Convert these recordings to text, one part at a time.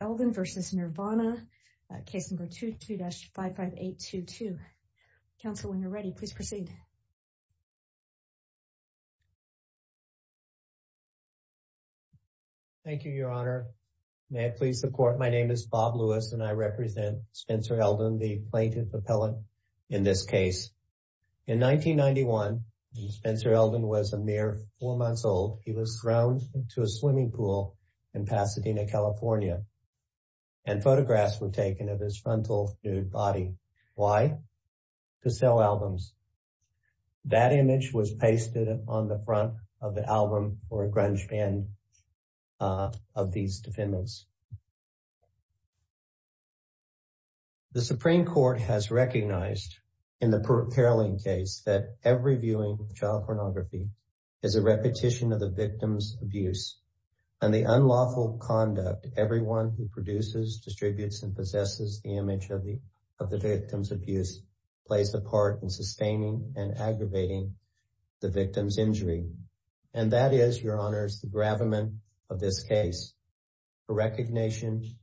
Elden v. Nirvana, Case No. 22-55822. Counsel, when you're ready, please proceed. Thank you, Your Honor. May I please support? My name is Bob Lewis and I represent Spencer Elden, the plaintiff appellant in this case. In 1991, Spencer Elden was a mere four months old. He was thrown into a swimming pool in Pasadena, California. And photographs were taken of his frontal nude body. Why? To sell albums. That image was pasted on the front of the album or a grunge band of these defendants. The Supreme Court has recognized in the Paroline case that every viewing of child pornography is a repetition of the victim's abuse and the unlawful conduct everyone who produces, distributes, and possesses the image of the victim's abuse plays a part in sustaining and aggravating the victim's injury. And that is, Your Honor, the gravamen of this case. The recognition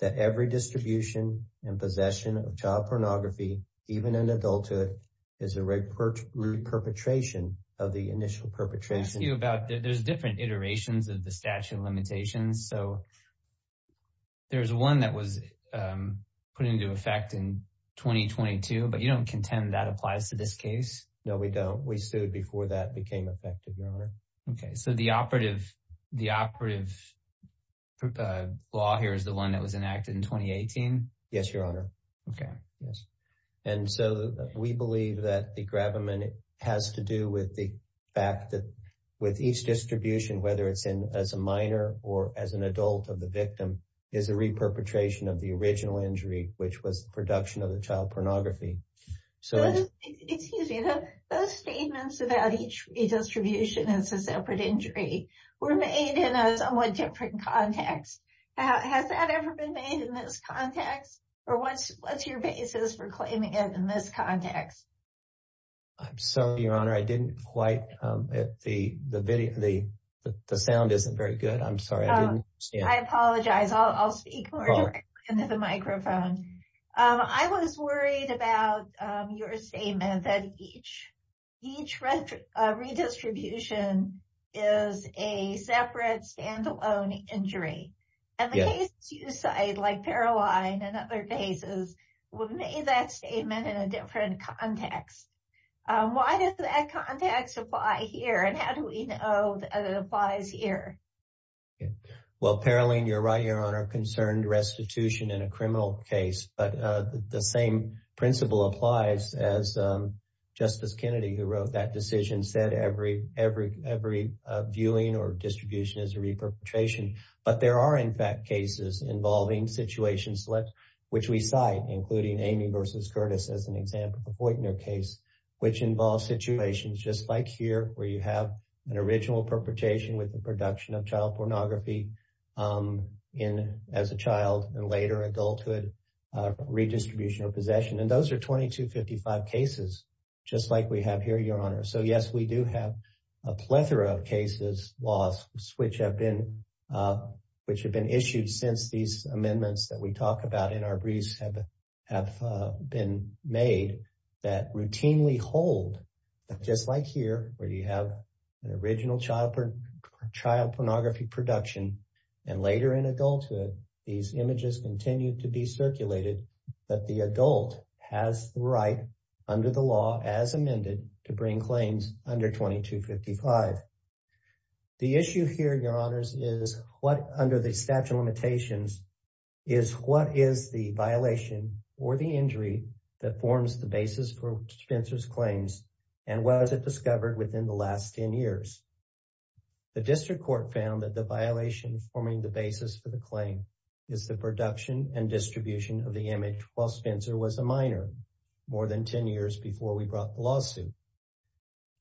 that every distribution and possession of child pornography, even in adulthood, is a re-perpetration of the initial perpetration. There's different iterations of the statute of limitations. So there's one that was put into effect in 2022, but you don't contend that applies to this case? No, we don't. We sued before that became effective, Your Honor. Okay. So the operative law here is the one that was enacted in 2018? Yes, Your Honor. Okay. Yes. And so we believe that the gravamen has to do with the fact that with each distribution, whether it's as a minor or as an adult of the victim, is a re-perpetration of the original injury, which was the production of the child pornography. So, excuse me, those statements about each redistribution as a separate injury were made in a somewhat different context. Has that ever been made in this context? Or what's your basis for claiming it in this context? I'm sorry, Your Honor. I didn't quite, the sound isn't very good. I'm sorry. I apologize. I'll speak more directly into the microphone. I was worried about your statement that each redistribution is a separate, standalone injury. And the cases you cite, like Paroline and other cases, were made in that statement in a different context. Why does that context apply here? And how do we know that it applies here? Well, Paroline, you're right, Your Honor, concerned restitution in a criminal case. But the same principle applies as Justice Kennedy, who wrote that decision, said every viewing or distribution is a re-perpetration. But there are, in fact, cases involving situations, which we cite, including Amy versus Curtis as an example, the Voitner case, which involves situations just like here, where you have an original perpetration with the production of child pornography as a child and later adulthood redistribution of possession. And those are 2255 cases, just like we have here, Your Honor. So yes, we do have a plethora of cases, laws, which have been issued since these amendments that we talk about in our briefs have been made that routinely hold, just like here, where you have an original child pornography production and later in adulthood, these images continue to be circulated that the adult has the right, under the law, as amended, to bring claims under 2255. The issue here, Your Honors, is what, under the statute of limitations, is what is the violation or the injury that was discovered within the last 10 years? The District Court found that the violation forming the basis for the claim is the production and distribution of the image while Spencer was a minor more than 10 years before we brought the lawsuit.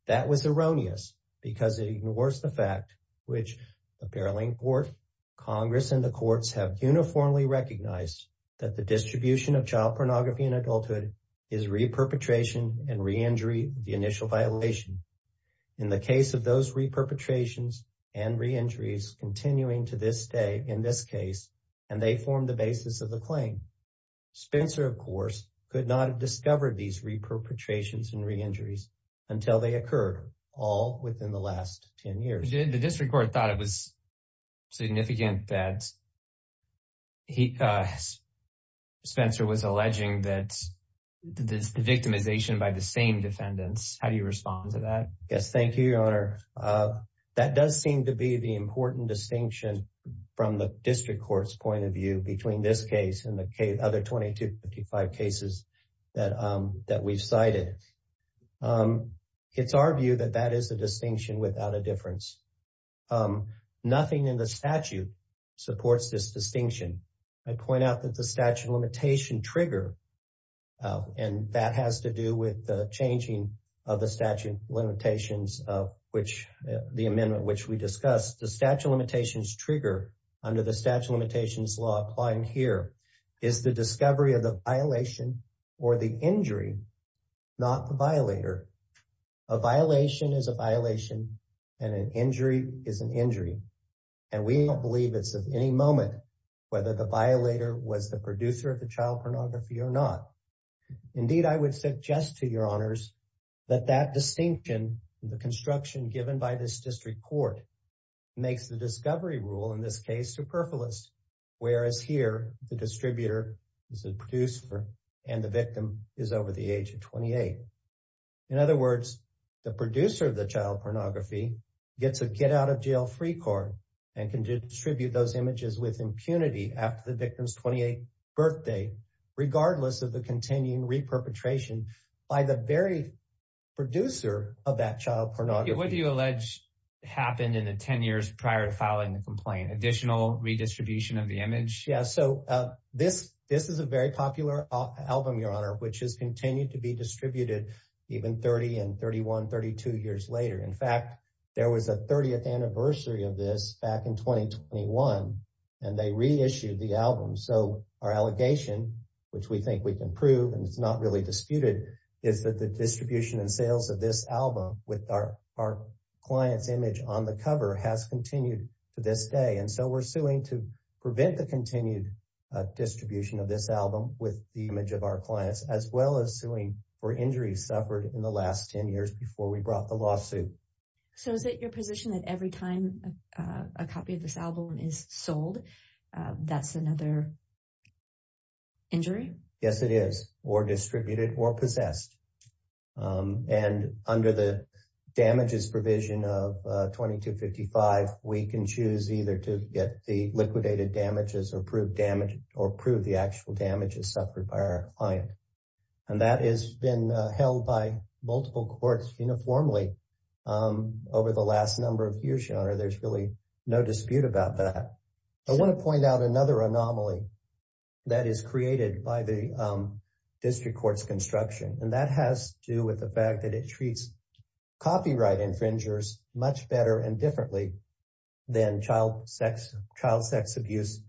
That was erroneous because it ignores the fact which the Paralink Court, Congress, and the courts have uniformly recognized that the distribution of child pornography in adulthood is re-perpetration and re-injury the initial violation. In the case of those re-perpetrations and re-injuries continuing to this day in this case, and they form the basis of the claim, Spencer, of course, could not have discovered these re-perpetrations and re-injuries until they occurred all within the last 10 years. The District Court thought it was significant that Spencer was alleging that the victimization by the same defendants. How do you respond to that? Yes, thank you, Your Honor. That does seem to be the important distinction from the District Court's point of view between this case and the other 2255 cases that we've cited. It's our view that that is the distinction without a difference. Nothing in the statute supports this distinction. I point out that the statute of limitation trigger, and that has to do with the changing of the statute of limitations of which the amendment which we discussed, the statute of limitations trigger under the statute of limitations law applying here is the discovery of the violation or the injury, not the violator. A violation is a violation and an injury is an injury, and we don't believe it's of any moment whether the violator was the producer of the child pornography or not. Indeed, I would suggest to Your Honors that that distinction, the construction given by this District Court makes the discovery rule in this case superfluous, whereas here the distributor is a producer and the victim is over the age of 28. In other words, the producer of the child pornography gets a get out of jail free card and can distribute those images with regardless of the continuing re-perpetration by the very producer of that child pornography. What do you allege happened in the 10 years prior to filing the complaint? Additional redistribution of the image? Yeah, so this is a very popular album, Your Honor, which has continued to be distributed even 30 and 31, 32 years later. In fact, there was a 30th anniversary of this back in 2021 and they reissued the album. So our allegation which we think we can prove and it's not really disputed is that the distribution and sales of this album with our client's image on the cover has continued to this day. And so we're suing to prevent the continued distribution of this album with the image of our clients as well as suing for injuries suffered in the last 10 years before we brought the lawsuit. So is it your position that every time a copy of this album is sold, that's another injury? Yes, it is or distributed or possessed. And under the damages provision of 2255, we can choose either to get the liquidated damages or prove the actual damages suffered by our client. And that has been held by multiple courts uniformly over the last number of years, Your Honor. There's really no dispute about that. I want to point out another anomaly that is created by the District Court's construction and that has to do with the fact that it treats copyright infringers much better and differently than child sex abuse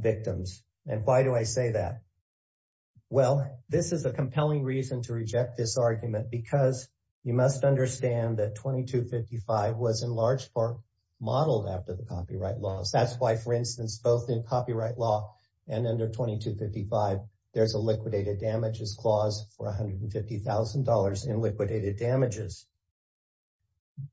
victims. And why do I say that? Well, this is a compelling reason to reject this argument because you must understand that 2255 was in large part modeled after the copyright laws. That's why, for instance, both in copyright law and under 2255, there's a liquidated damages clause for $150,000 in liquidated damages.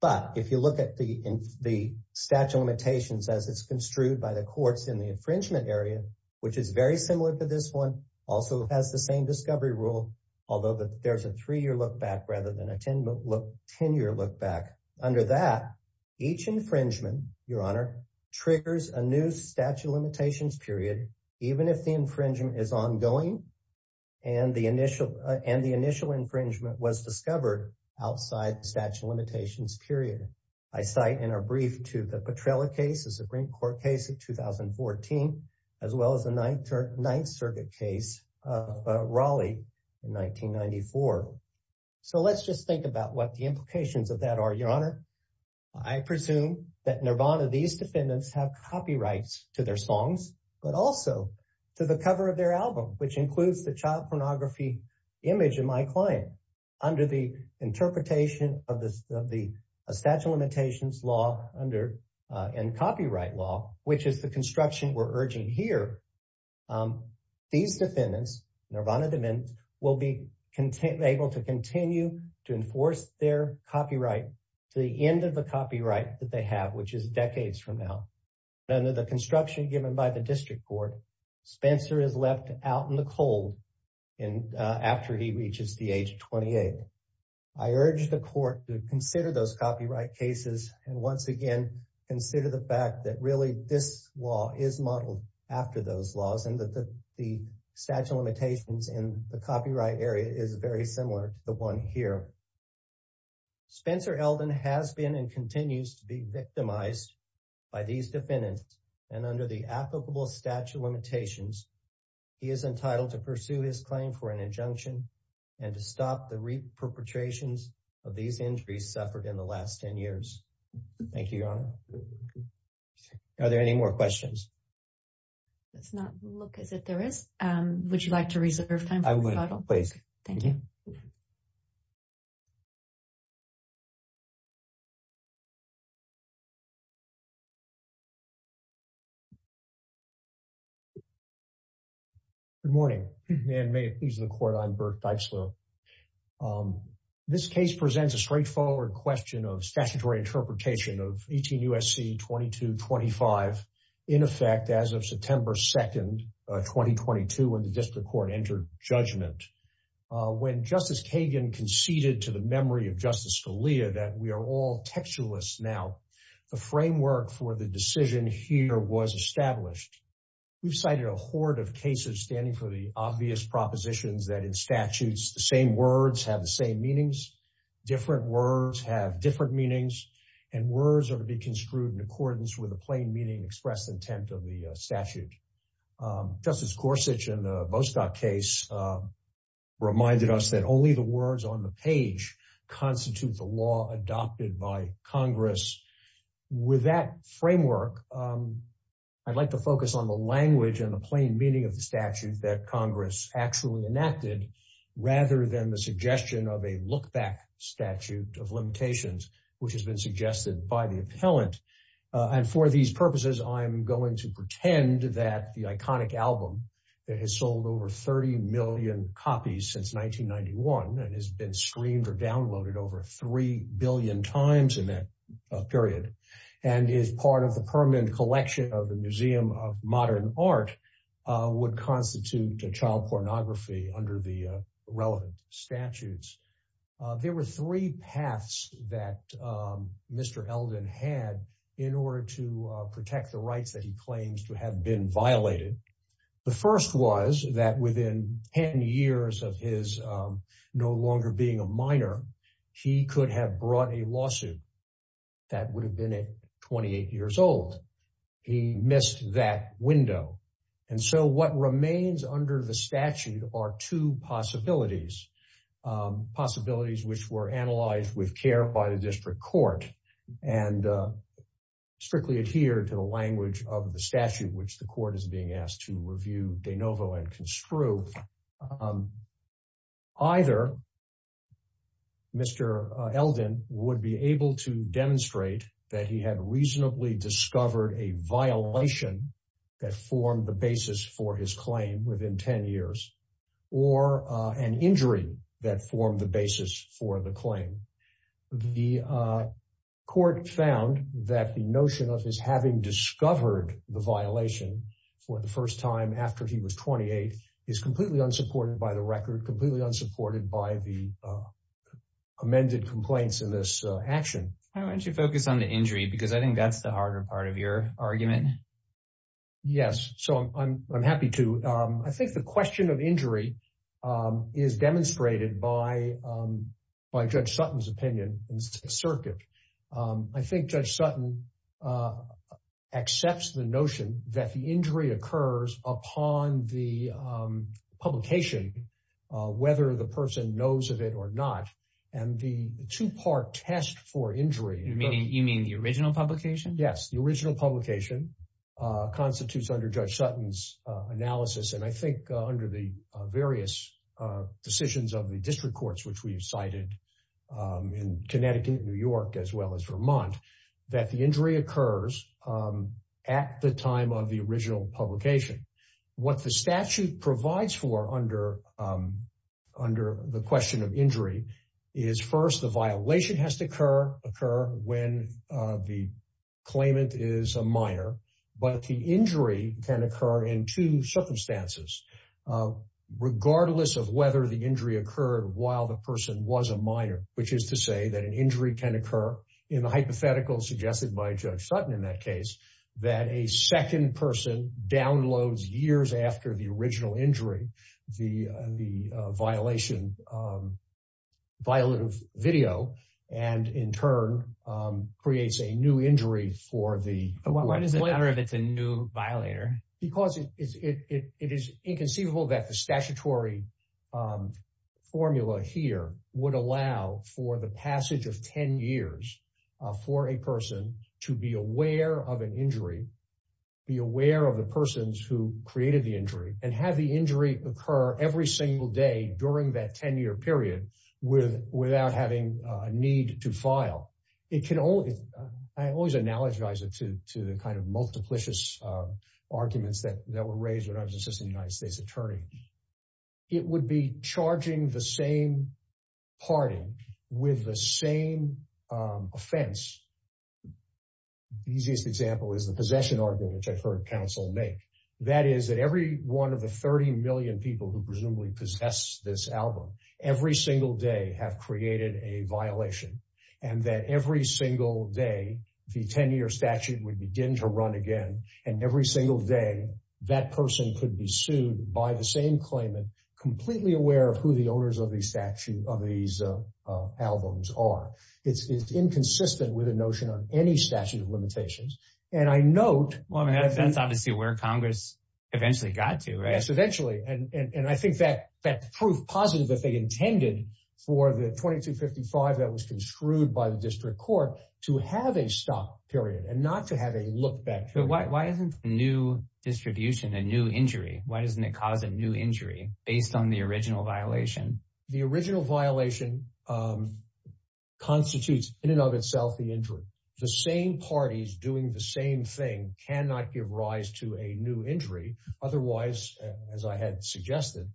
But if you look at the statute of limitations as it's construed by the courts in the infringement area, which is very similar to this one, also has the same discovery rule, although there's a three-year look back rather than 10-year look back. Under that, each infringement, Your Honor, triggers a new statute of limitations period, even if the infringement is ongoing and the initial infringement was discovered outside the statute of limitations period. I cite in our brief to the Petrella case, a Supreme Court case of 2014, as well as the Ninth Circuit case of Raleigh in 1994. So let's just think about what the implications of that are, Your Honor. I presume that Nirvana, these defendants, have copyrights to their songs, but also to the cover of their album, which includes the child pornography image of my client. Under the interpretation of the statute of limitations law and copyright law, which is the construction we're These defendants, Nirvana DeMint, will be able to continue to enforce their copyright to the end of the copyright that they have, which is decades from now. Under the construction given by the District Court, Spencer is left out in the cold after he reaches the age of 28. I urge the court to consider those copyright cases and once again, consider the fact that really this law is modeled after those laws and that the statute of limitations in the copyright area is very similar to the one here. Spencer Elden has been and continues to be victimized by these defendants and under the applicable statute of limitations, he is entitled to pursue his claim for an injunction and to stop the reperpetrations of these injuries suffered in the last 10 years. Thank you, Your Honor. Are there any more questions? Let's not look as if there is. Would you like to reserve time? I would, please. Thank you. Good morning, and may it please the Court, I'm Burke Dykeslow. This case presents a straightforward question of statutory interpretation of 18 U.S.C. 2225, in effect as of September 2, 2022, when the District Court entered judgment. When Justice Kagan conceded to the memory of Justice Scalia that we are all textualists now, the framework for the decision here was established. We've cited a horde of cases standing for the obvious propositions that in statutes, the same words have the same meanings, different words have different meanings, and words are to be construed in accordance with a plain meaning expressed intent of the statute. Justice Gorsuch in the Bostock case reminded us that only the words on the page constitute the law adopted by Congress. With that framework, I'd like to focus on the language and the plain meaning of the statute that Congress actually introduced a look-back statute of limitations, which has been suggested by the appellant. And for these purposes, I'm going to pretend that the iconic album that has sold over 30 million copies since 1991 and has been streamed or downloaded over three billion times in that period and is part of the permanent collection of the Museum of Modern Art would constitute a child pornography under the relevant statutes. There were three paths that Mr. Eldon had in order to protect the rights that he claims to have been violated. The first was that within 10 years of his no longer being a minor, he could have brought a lawsuit that would have been at 28 years old. He missed that window. And so what remains under the statute are two possibilities. Possibilities which were analyzed with care by the district court and strictly adhere to the language of the statute which the court is being asked to review de novo and construe. Either Mr. Eldon would be able to demonstrate that he had reasonably discovered a violation that formed the basis for his 20 years or an injury that formed the basis for the claim. The court found that the notion of his having discovered the violation for the first time after he was 28 is completely unsupported by the record, completely unsupported by the amended complaints in this action. Why don't you focus on the injury because I think that's the harder part of your argument. Yes, so I'm happy to. I think the question of injury is demonstrated by Judge Sutton's opinion in the circuit. I think Judge Sutton accepts the notion that the injury occurs upon the publication whether the person knows of it or not and the two-part test for injury. You mean the original publication? Yes, the original publication constitutes under Judge Sutton's analysis and I think under the various decisions of the district courts, which we have cited in Connecticut, New York, as well as Vermont that the injury occurs at the time of the original publication. What the statute provides for under the question of injury is first the violation has to occur when the claimant is a minor, but the injury can occur in two circumstances regardless of whether the injury occurred while the person was a minor, which is to say that an injury can occur in the hypothetical suggested by Judge Sutton in that case that a second person downloads years after the and in turn creates a new injury for the new violator because it is inconceivable that the statutory formula here would allow for the passage of 10 years for a person to be aware of an injury, be aware of the persons who created the injury and have the injury occur every single day during that 10-year period without having a need to file. I always analogize it to the kind of multiplicious arguments that were raised when I was assistant United States attorney. It would be charging the same party with the same offense. The easiest example is the possession argument, which I've heard counsel make. That is that every one of the 30 million people who presumably possess this album every single day have created a violation and that every single day the 10-year statute would begin to run again and every single day that person could be sued by the same claimant completely aware of who the owners of the statute of these albums are. It's inconsistent with a notion on any statute of limitations. And I note that's obviously where Congress eventually got to, right? And I think that proved positive that they intended for the 2255 that was construed by the district court to have a stop period and not to have a look back. But why isn't new distribution a new injury? Why doesn't it cause a new injury based on the original violation? The original violation constitutes in and of itself the injury. The same parties doing the same thing cannot give rise to a new injury. Otherwise, as I had suggested,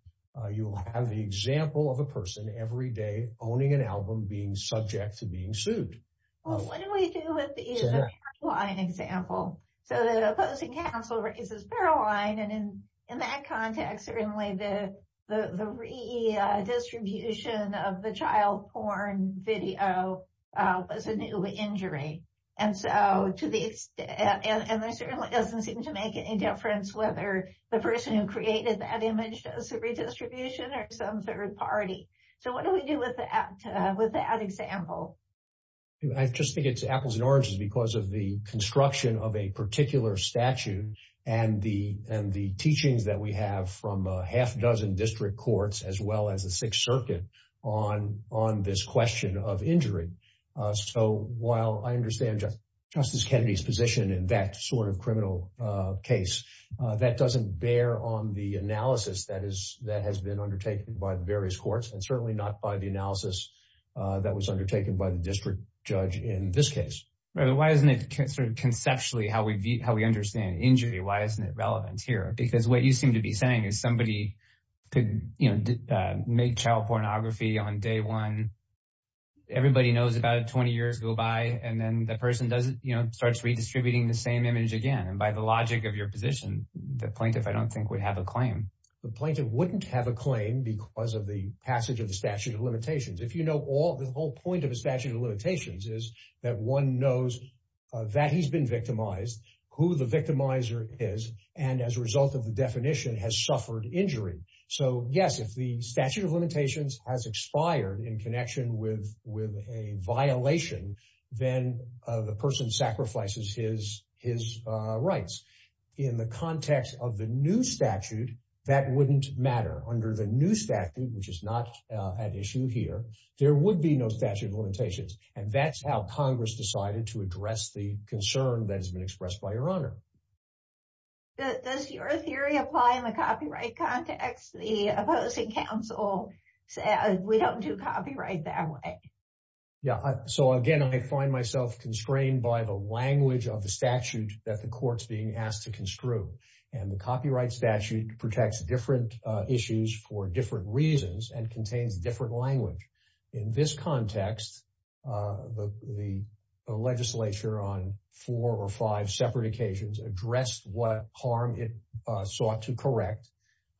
you will have the example of a person every day owning an album being subject to being sued. Well, what do we do with the is a Paroline example? So the opposing counsel raises Paroline and in that context, certainly the redistribution of the child porn video was a new injury. And so to the extent and there certainly doesn't seem to make any difference whether the person who created that image does a redistribution or some third party. So what do we do with that with that example? I just think it's apples and oranges because of the construction of a particular statute and the and the teachings that we have from a half dozen district courts as well as the Sixth Circuit on on this question of injury. So while I understand Justice Kennedy's position in that sort of criminal case that doesn't bear on the analysis that is that has been undertaken by the various courts and certainly not by the analysis that was undertaken by the district judge in this case, right? Why isn't it considered conceptually how we how we understand injury? Why isn't it relevant here? Because what you seem to be saying is somebody could, you know, make child pornography on day one. Everybody knows about 20 years go by and then the person doesn't, you know, starts redistributing the same image again. And by the logic of your position, the plaintiff I don't think would have a claim. The plaintiff wouldn't have a claim because of the passage of the statute of limitations. If you know all the whole point of a statute of limitations is that one knows that he's been victimized, who the victimizer is, and as a result of the definition has suffered injury. So yes, if the statute of limitations has expired in connection with with a violation, then the person sacrifices his rights. In the context of the new statute, that wouldn't matter. Under the new statute, which is not at issue here, there would be no statute of limitations. And that's how Congress decided to address the concern that has been expressed by your honor. Does your theory apply in the copyright context? The opposing counsel says we don't do copyright that way. Yeah, so again, I find myself constrained by the language of the statute that the court's being asked to construe. And the copyright statute protects different issues for different reasons and contains different language. In this context, the legislature on four or five separate occasions addressed what harm it sought to correct,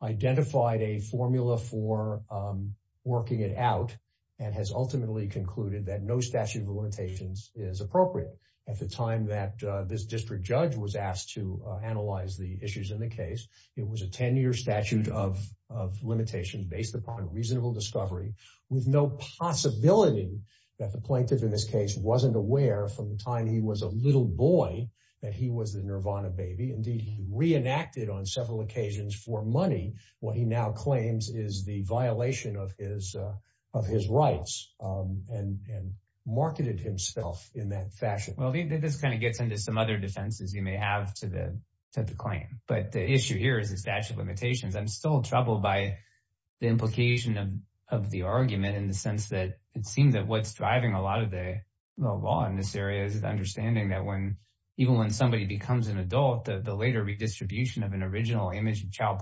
identified a formula for working it out, and has ultimately concluded that no statute of limitations is appropriate. At the time that this district judge was asked to analyze the issues in the case, it was a 10-year statute of limitation based upon reasonable discovery with no possibility that the plaintiff in this case wasn't aware from the time he was a little boy that he was the nirvana baby. Indeed, he reenacted on several occasions for money what he now claims is the violation of his rights and marketed himself in that fashion. Well, this kind of gets into some other defenses you may have to the claim. But the issue here is the statute of limitations. I'm still troubled by the implication of the argument in the sense that it seems that what's driving a lot of the law in this area is the understanding that even when somebody becomes an adult, the later redistribution of an original image of child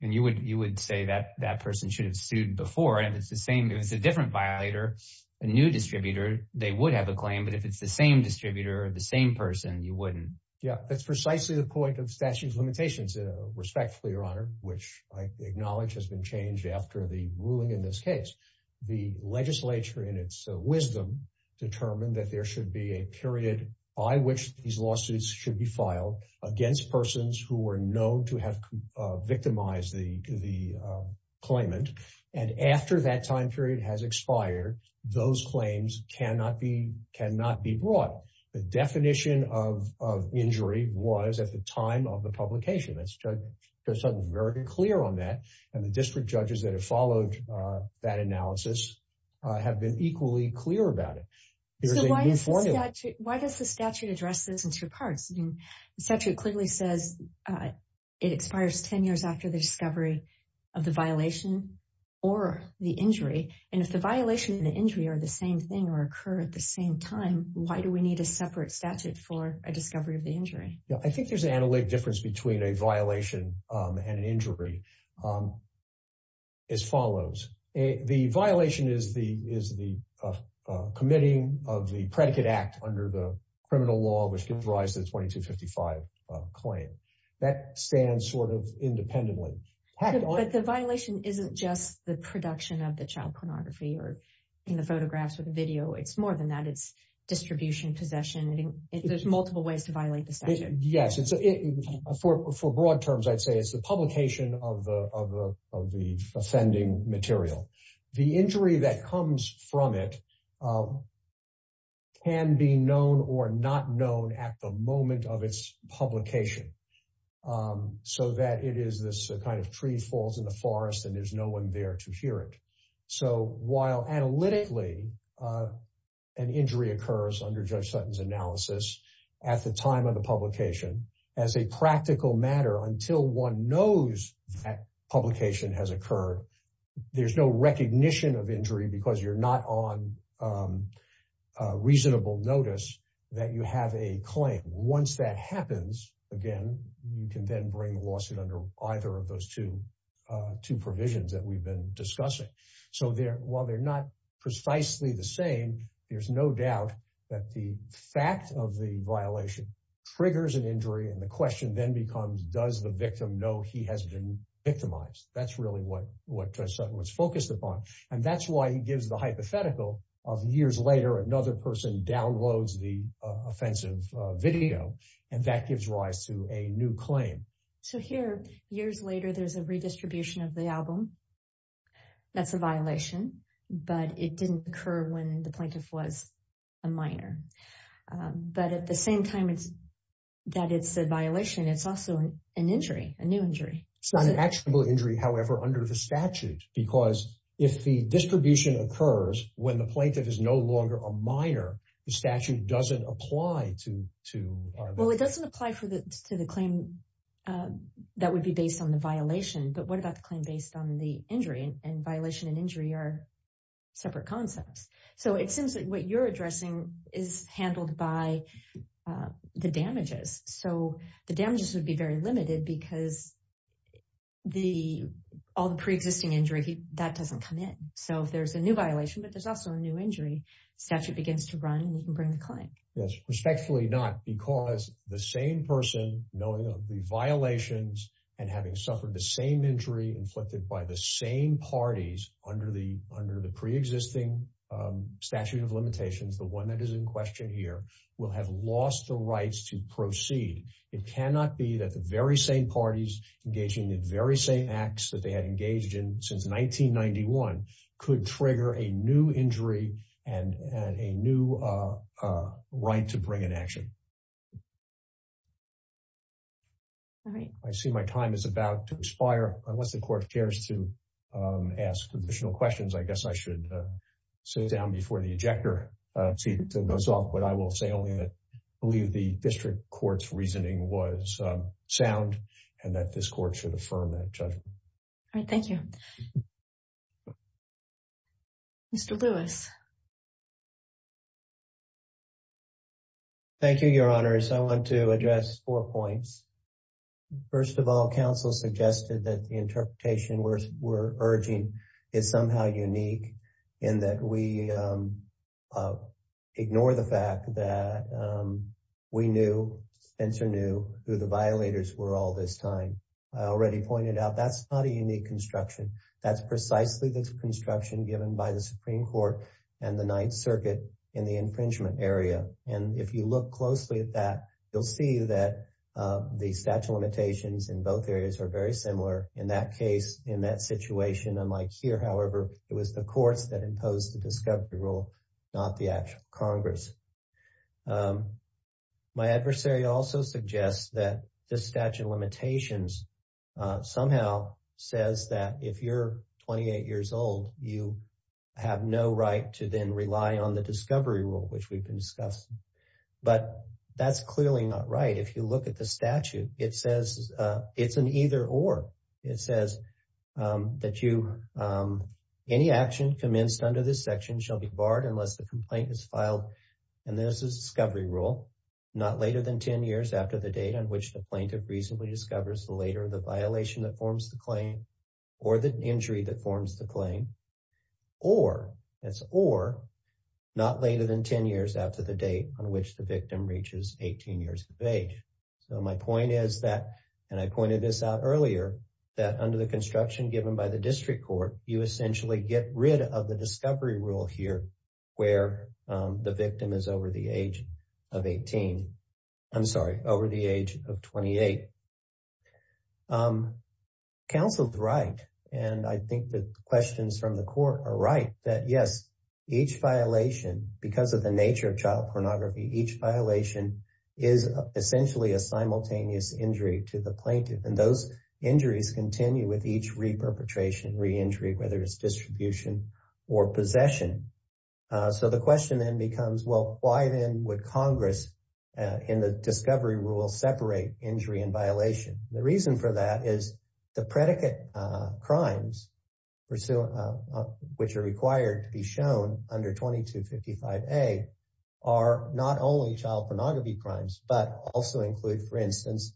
you would you would say that that person should have sued before and it's the same if it's a different violator, a new distributor, they would have a claim. But if it's the same distributor of the same person, you wouldn't. Yeah, that's precisely the point of statute of limitations respectfully, your honor, which I acknowledge has been changed after the ruling in this case. The legislature in its wisdom determined that there should be a period by which these lawsuits should be filed against persons who were known to have victimized the the claimant and after that time period has expired those claims cannot be cannot be brought. The definition of injury was at the time of the publication. That's just something very clear on that and the district judges that have followed that analysis have been equally clear about it. Why does the statute address this in two parts? The statute clearly says it expires 10 years after the discovery of the violation or the injury and if the violation and the injury are the same thing or occur at the same time, why do we need a separate statute for a discovery of the injury? Yeah, I think there's an analytic difference between a violation and an injury as follows. The violation is the is the committing of the predicate act under the 2255 claim that stands sort of independently. The violation isn't just the production of the child pornography or in the photographs with video. It's more than that. It's distribution possession. There's multiple ways to violate the statute. Yes, it's a for for broad terms. I'd say it's the publication of the of the offending material the injury that comes from it can be known or not known at the moment of its publication so that it is this kind of tree falls in the forest and there's no one there to hear it. So while analytically an injury occurs under Judge Sutton's analysis at the time of the publication as a practical matter until one knows that publication has occurred. There's no reasonable notice that you have a claim. Once that happens again, you can then bring the lawsuit under either of those two two provisions that we've been discussing. So there while they're not precisely the same. There's no doubt that the fact of the violation triggers an injury and the question then becomes does the victim know he has been victimized. That's really what what Judge Sutton was focused upon and that's why he gives the hypothetical of years later another person downloads the offensive video and that gives rise to a new claim. So here years later, there's a redistribution of the album. That's a violation, but it didn't occur when the plaintiff was a minor, but at the same time, it's that it's a violation. It's also an injury a new injury. It's not an actionable injury. However under the statute because if the distribution occurs when the plaintiff is no longer a minor the statute doesn't apply to to well, it doesn't apply for the to the claim that would be based on the violation. But what about the claim based on the injury and violation and injury are separate concepts. So it seems that what you're addressing is handled by the damages. So the damages would be very limited because the all the pre-existing injury that doesn't come in. So if there's a new violation, but there's also a new injury statute begins to run and you can bring the client. Yes respectfully not because the same person knowing of the violations and having suffered the same injury inflicted by the same parties under the under the pre-existing statute of limitations. The one that is in question here will have lost the rights to proceed. It cannot be that the very same parties engaging in very same acts that they had engaged in since 1991 could trigger a new injury and a new right to bring an action. All right. I see my time is about to expire unless the court cares to ask additional questions. I guess I should sit down before the ejector seat goes off. But I will say only that believe the court should affirm that judgment. All right. Thank you. Mr. Lewis. Thank you your honors. I want to address four points. First of all counsel suggested that the interpretation we're urging is somehow unique in that we ignore the fact that we knew Spencer knew who the violators were all this time. I already pointed out that's not a unique construction. That's precisely the construction given by the Supreme Court and the Ninth Circuit in the infringement area. And if you look closely at that you'll see that the statute of limitations in both areas are very similar in that case in that situation unlike here. However, it was the courts that imposed the discovery rule not the Congress. My adversary also suggests that the statute of limitations somehow says that if you're 28 years old you have no right to then rely on the discovery rule which we've been discussing. But that's clearly not right. If you look at the statute it says it's an either or it says that you any action commenced under this section shall be barred unless the complaint is filed. And this is discovery rule not later than 10 years after the date on which the plaintiff reasonably discovers the later the violation that forms the claim or the injury that forms the claim or it's or not later than 10 years after the date on which the victim reaches 18 years of age. So my point is that and I pointed this out earlier that under the construction given by the district court you essentially get rid of the discovery rule here where the victim is over the age of 18. I'm sorry over the age of 28. Counsel's right and I think the questions from the court are right that yes each violation because of the nature of child pornography each violation is essentially a simultaneous injury to the plaintiff and those injuries continue with each reperpetration re-injury whether it's distribution or possession. So the question then becomes well, why then would Congress in the discovery rule separate injury and violation the reason for that is the predicate crimes pursuant which are required to be shown under 2255 a are not only child pornography crimes, but also include for instance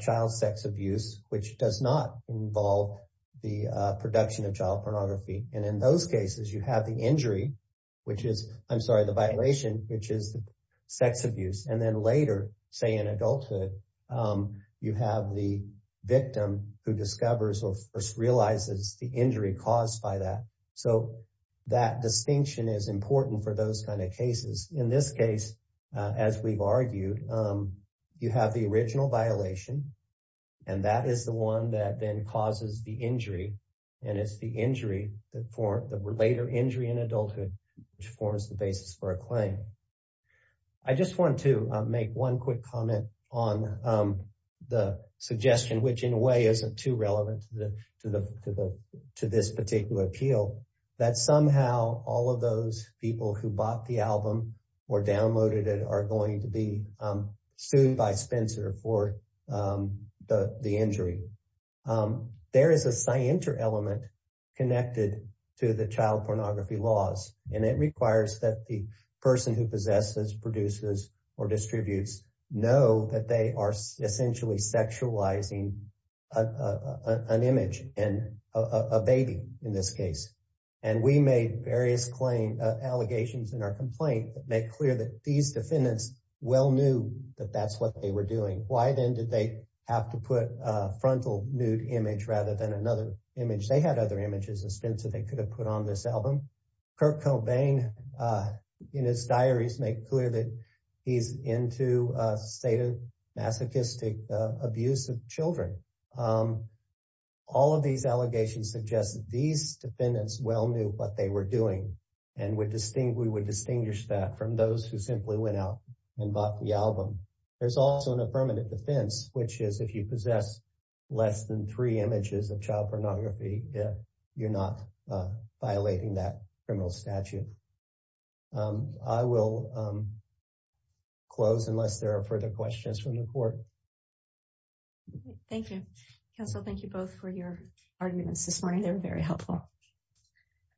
child sex abuse which does not involve the production of child pornography and in those cases you have the injury which is I'm sorry the violation which is the sex abuse and then later say in adulthood you have the victim who discovers or first realizes the injury caused by that. So that distinction is important for those kind of cases in this case as we've argued you have the original violation and that is the one that then causes the injury and it's the injury that form that were later injury in adulthood which forms the basis for a claim. I just want to make one quick comment on the suggestion which in a way isn't too relevant to the to the to the to this particular appeal that somehow all of those people who bought the album or downloaded it are going to be sued by Spencer for the injury. There is a sign inter element connected to the child pornography laws and it requires that the person who possesses produces or distributes know that they are essentially sexualizing an image and a baby in this case and we made various claim allegations in our complaint that make clear that these They were doing why then did they have to put frontal nude image rather than another image. They had other images and Spencer. They could have put on this album Kurt Cobain in his diaries make clear that he's into a state of masochistic abuse of children. All of these allegations suggest that these defendants well knew what they were doing and would distinct we would distinguish that from those who simply went out and bought the album. There's also an affirmative defense which is if you possess less than three images of child pornography. Yeah, you're not violating that criminal statute. I will close unless there are further questions from the court. Thank you counsel. Thank you both for your arguments this morning. They were very helpful.